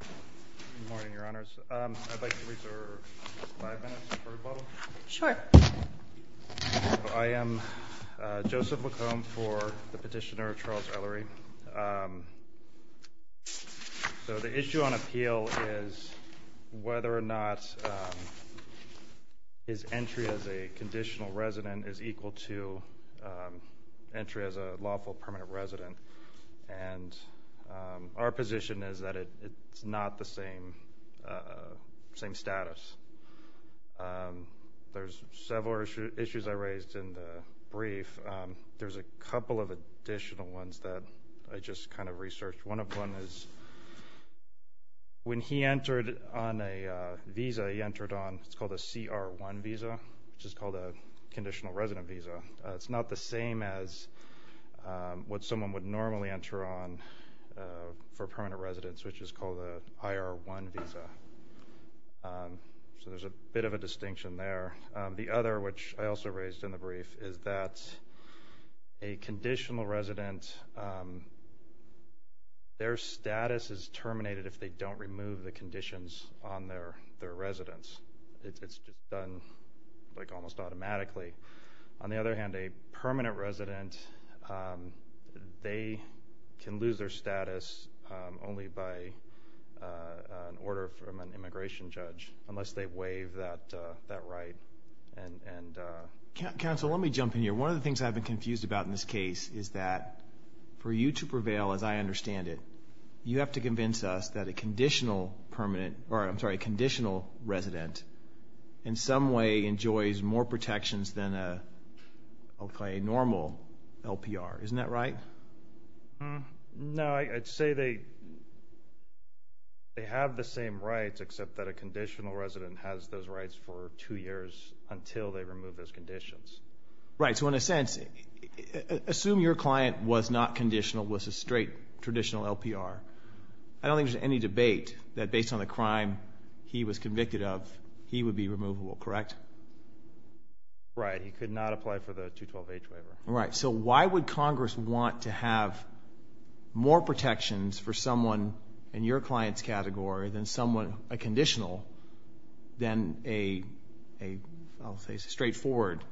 Good morning, Your Honors. I'd like to reserve five minutes for rebuttal. Sure. I am Joseph McComb for the petitioner Charles Eleri. So the issue on appeal is whether or not his entry as a conditional resident is equal to entry as a lawful permanent resident. And our position is that it's not the same status. There's several issues I raised in the brief. There's a couple of additional ones that I just kind of researched. One of them is when he entered on a visa, he entered on what's called a CR-1 visa, which is called a conditional resident visa. It's not the same as what someone would normally enter on for permanent residence, which is called an IR-1 visa. So there's a bit of a distinction there. The other, which I also raised in the brief, is that a conditional resident, their status is terminated if they don't remove the conditions on their residence. It's done, like, almost automatically. On the other hand, a permanent resident, they can lose their status only by an order from an immigration judge unless they waive that right. Counsel, let me jump in here. One of the things I've been confused about in this case is that for you to prevail as I understand it, you have to convince us that a conditional resident in some way enjoys more protections than a normal LPR. Isn't that right? No. I'd say they have the same rights, except that a conditional resident has those rights for two years until they remove those conditions. Right. So in a sense, assume your client was not conditional, was a straight traditional LPR. I don't think there's any debate that based on the crime he was convicted of, he would be removable, correct? Right. He could not apply for the 212H waiver. Right. So why would Congress want to have more protections for someone in your client's category than someone, a conditional, than a straightforward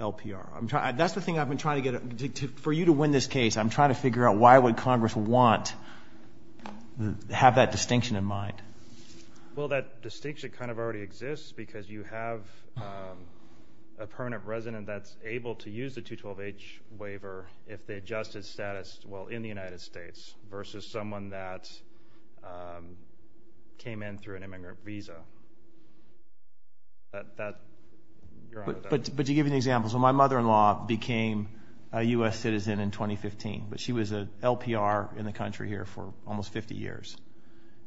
LPR? That's the thing I've been trying to get. For you to win this case, I'm trying to figure out why would Congress want to have that distinction in mind. Well, that distinction kind of already exists because you have a permanent resident that's able to use the 212H waiver if they adjusted status, well, in the United States versus someone that came in through an immigrant visa. But to give you an example, so my mother-in-law became a U.S. citizen in 2015, but she was a LPR in the country here for almost 50 years.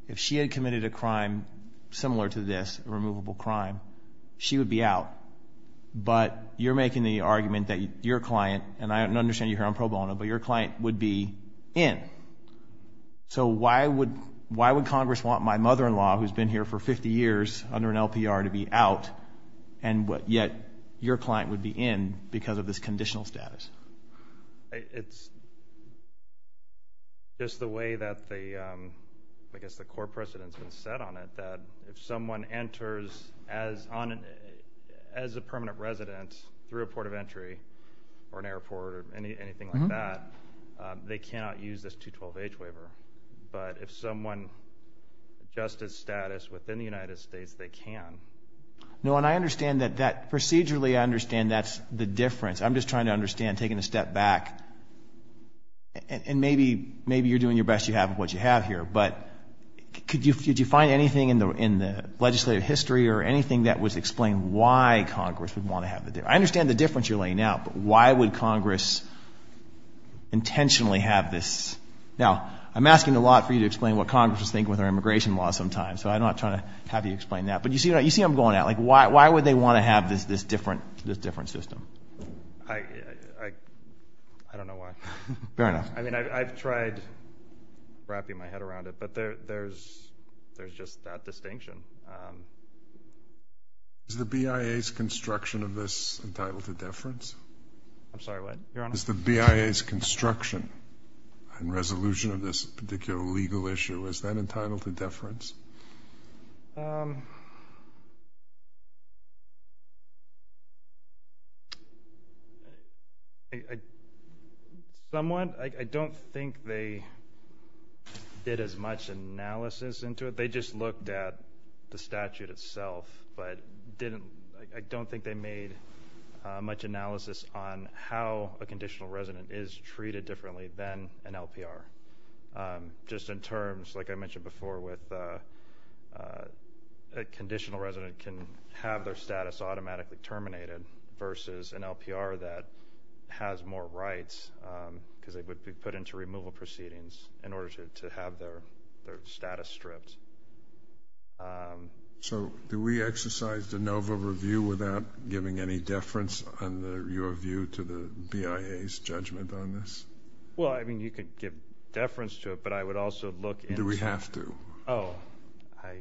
If she had committed a crime similar to this, a removable crime, she would be out. But you're making the argument that your client, and I understand you're here on pro bono, but your client would be in. So why would Congress want my mother-in-law, who's been here for 50 years under an LPR, to be out, and yet your client would be in because of this conditional status? It's just the way that I guess the core precedent's been set on it, that if someone enters as a permanent resident through a port of entry or an airport or anything like that, they cannot use this 212H waiver. But if someone adjusted status within the United States, they can. No, and I understand that procedurally I understand that's the difference. I'm just trying to understand, taking a step back, and maybe you're doing your best to have what you have here, but could you find anything in the legislative history or anything that would explain why Congress would want to have it there? I understand the difference you're laying out, but why would Congress intentionally have this? Now, I'm asking a lot for you to explain what Congress was thinking with our immigration law sometimes, so I'm not trying to have you explain that. But you see what I'm going at. Why would they want to have this different system? I don't know why. Fair enough. I mean, I've tried wrapping my head around it, but there's just that distinction. Is the BIA's construction of this entitled to deference? I'm sorry, what? Is the BIA's construction and resolution of this particular legal issue, is that entitled to deference? Somewhat. I don't think they did as much analysis into it. They just looked at the statute itself, but I don't think they made much analysis on how a conditional resident is treated differently than an LPR. Just in terms, like I mentioned before, with a conditional resident can have their status automatically terminated versus an LPR that has more rights because it would be put into removal proceedings in order to have their status stripped. So do we exercise de novo review without giving any deference on your view to the BIA's judgment on this? Well, I mean, you could give deference to it, but I would also look into it. Do we have to? Oh, I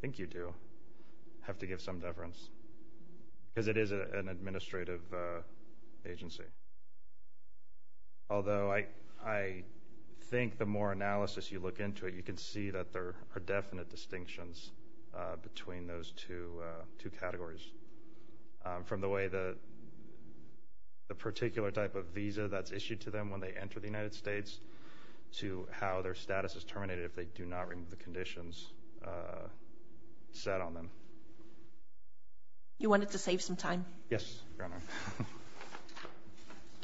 think you do have to give some deference because it is an administrative agency. Although I think the more analysis you look into it, you can see that there are definite distinctions between those two categories. From the way the particular type of visa that's issued to them when they enter the United States to how their status is terminated if they do not remove the conditions set on them. You wanted to save some time? Yes, Your Honor.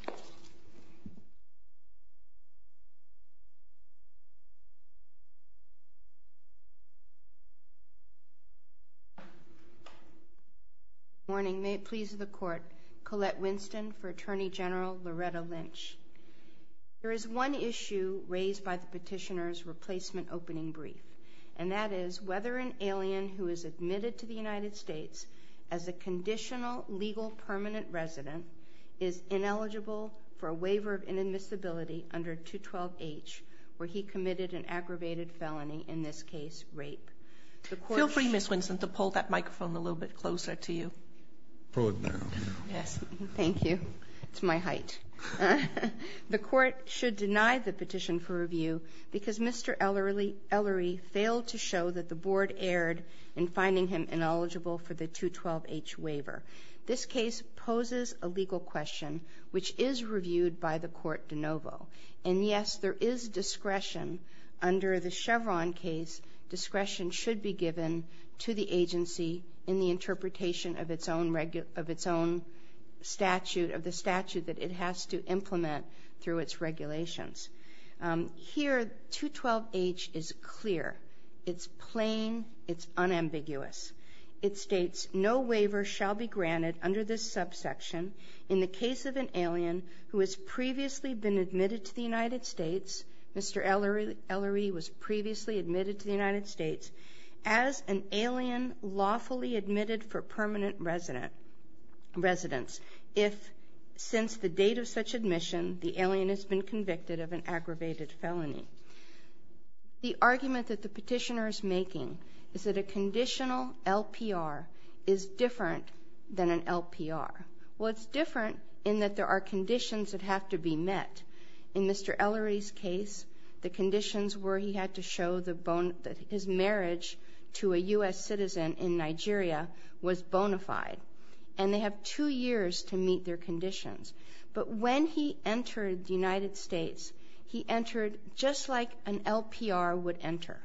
Good morning. May it please the Court. Colette Winston for Attorney General Loretta Lynch. There is one issue raised by the petitioner's replacement opening brief, and that is whether an alien who is admitted to the United States as a conditional legal permanent resident is ineligible for a waiver of inadmissibility under 212H where he committed an aggravated felony, in this case, rape. Feel free, Ms. Winston, to pull that microphone a little bit closer to you. Pull it now. Yes. Thank you. It's my height. The Court should deny the petition for review because Mr. Ellery failed to show that the Board erred in finding him ineligible for the 212H waiver. This case poses a legal question which is reviewed by the court de novo. And, yes, there is discretion under the Chevron case. Discretion should be given to the agency in the interpretation of its own statute, of the statute that it has to implement through its regulations. Here, 212H is clear. It's plain. It's unambiguous. It states, no waiver shall be granted under this subsection in the case of an alien who has previously been admitted to the United States. Mr. Ellery was previously admitted to the United States as an alien lawfully admitted for permanent residence if, since the date of such admission, the alien has been convicted of an aggravated felony. The argument that the petitioner is making is that a conditional LPR is different than an LPR. Well, it's different in that there are conditions that have to be met. In Mr. Ellery's case, the conditions were he had to show that his marriage to a U.S. citizen in Nigeria was bona fide. And they have two years to meet their conditions. But when he entered the United States, he entered just like an LPR would enter.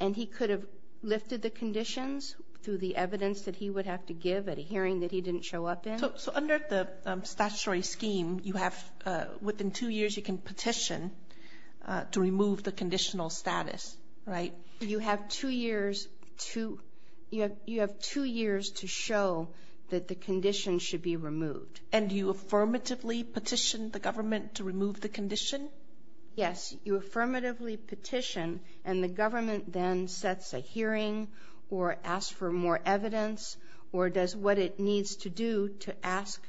And he could have lifted the conditions through the evidence that he would have to give at a hearing that he didn't show up in. So under the statutory scheme, you have within two years you can petition to remove the conditional status, right? You have two years to show that the condition should be removed. And you affirmatively petition the government to remove the condition? Yes. You affirmatively petition, and the government then sets a hearing or asks for more evidence or does what it needs to do to ask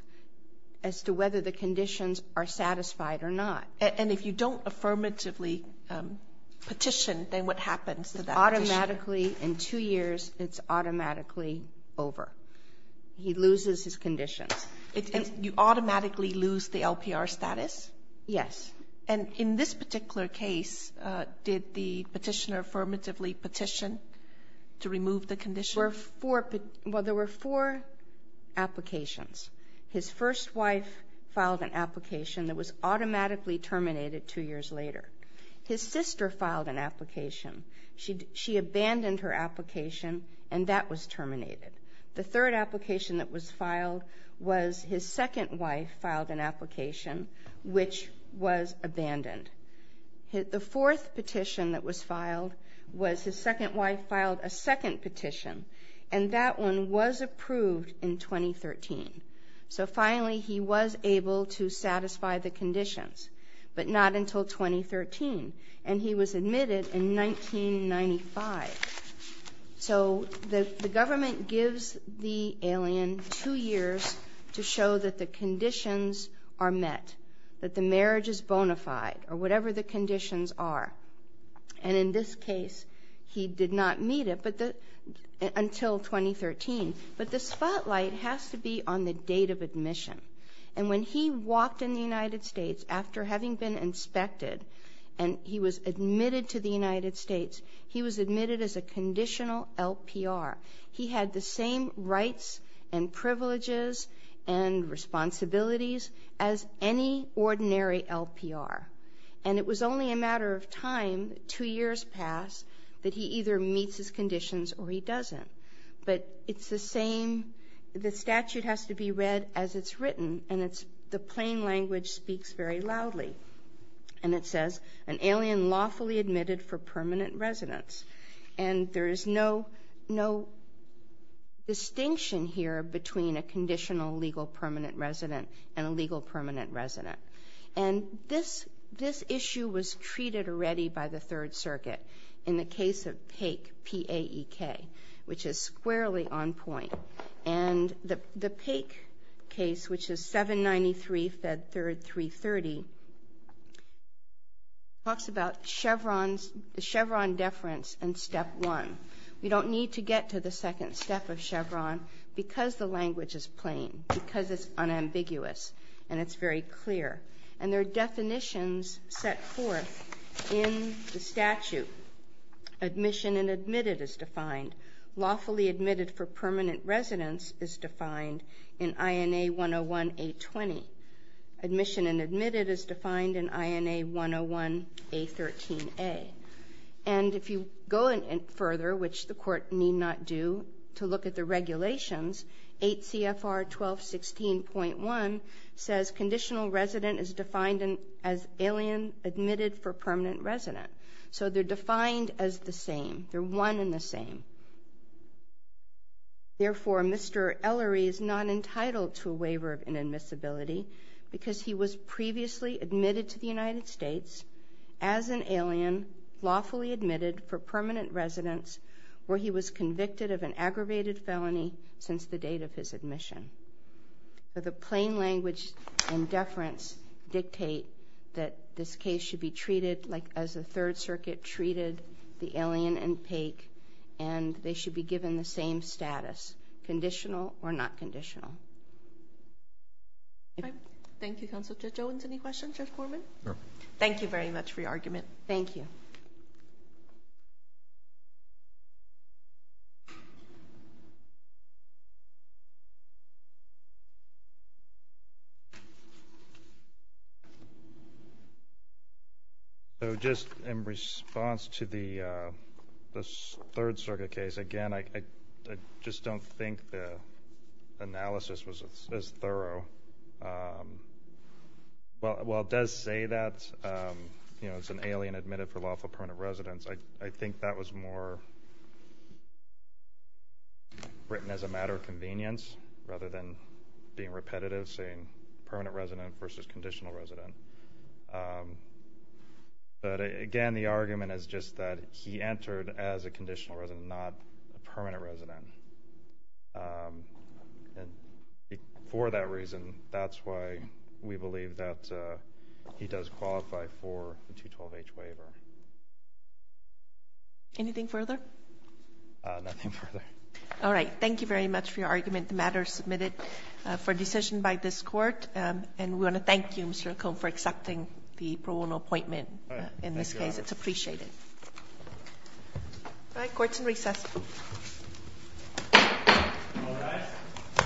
as to whether the conditions are satisfied or not. And if you don't affirmatively petition, then what happens to that petitioner? Automatically in two years, it's automatically over. He loses his conditions. You automatically lose the LPR status? Yes. And in this particular case, did the petitioner affirmatively petition to remove the condition? Well, there were four applications. His first wife filed an application that was automatically terminated two years later. His sister filed an application. She abandoned her application, and that was terminated. The third application that was filed was his second wife filed an application, which was abandoned. The fourth petition that was filed was his second wife filed a second petition, and that one was approved in 2013. So finally he was able to satisfy the conditions, but not until 2013. And he was admitted in 1995. So the government gives the alien two years to show that the conditions are met, that the marriage is bona fide or whatever the conditions are. And in this case, he did not meet it until 2013. But the spotlight has to be on the date of admission. And when he walked in the United States after having been inspected, and he was admitted to the United States, he was admitted as a conditional LPR. He had the same rights and privileges and responsibilities as any ordinary LPR. And it was only a matter of time, two years passed, that he either meets his conditions or he doesn't. But it's the same. The statute has to be read as it's written, and the plain language speaks very loudly. And it says, an alien lawfully admitted for permanent residence. And there is no distinction here between a conditional legal permanent resident and a legal permanent resident. And this issue was treated already by the Third Circuit in the case of Paek, P-A-E-K, which is squarely on point. And the Paek case, which is 793 Fed Third 330, talks about Chevron deference and step one. We don't need to get to the second step of Chevron because the language is plain, because it's unambiguous and it's very clear. And there are definitions set forth in the statute. Admission and admitted is defined. Lawfully admitted for permanent residence is defined in INA 101A20. Admission and admitted is defined in INA 101A13A. And if you go further, which the court need not do, to look at the regulations, 8 CFR 1216.1 says conditional resident is defined as alien admitted for permanent resident. So they're defined as the same. They're one and the same. Therefore, Mr. Ellery is not entitled to a waiver of inadmissibility because he was previously admitted to the United States as an alien lawfully admitted for permanent residence where he was convicted of an aggravated felony since the date of his admission. But the plain language and deference dictate that this case should be treated like as the Third Circuit treated the alien in Paek and they should be given the same status, conditional or not conditional. Thank you, Counsel Judge Owens. Any questions, Judge Gorman? No. Thank you very much for your argument. Thank you. Thank you. So just in response to the Third Circuit case, again, I just don't think the analysis was as thorough. While it does say that it's an alien admitted for lawful permanent residence, I think that was more written as a matter of convenience rather than being repetitive, saying permanent resident versus conditional resident. But again, the argument is just that he entered as a conditional resident, not a permanent resident. And for that reason, that's why we believe that he does qualify for the 212-H waiver. Anything further? Nothing further. All right. Thank you very much for your argument. The matter is submitted for decision by this Court. And we want to thank you, Mr. McComb, for accepting the pro bono appointment in this case. It's appreciated. All right. Court is in recess. All rise.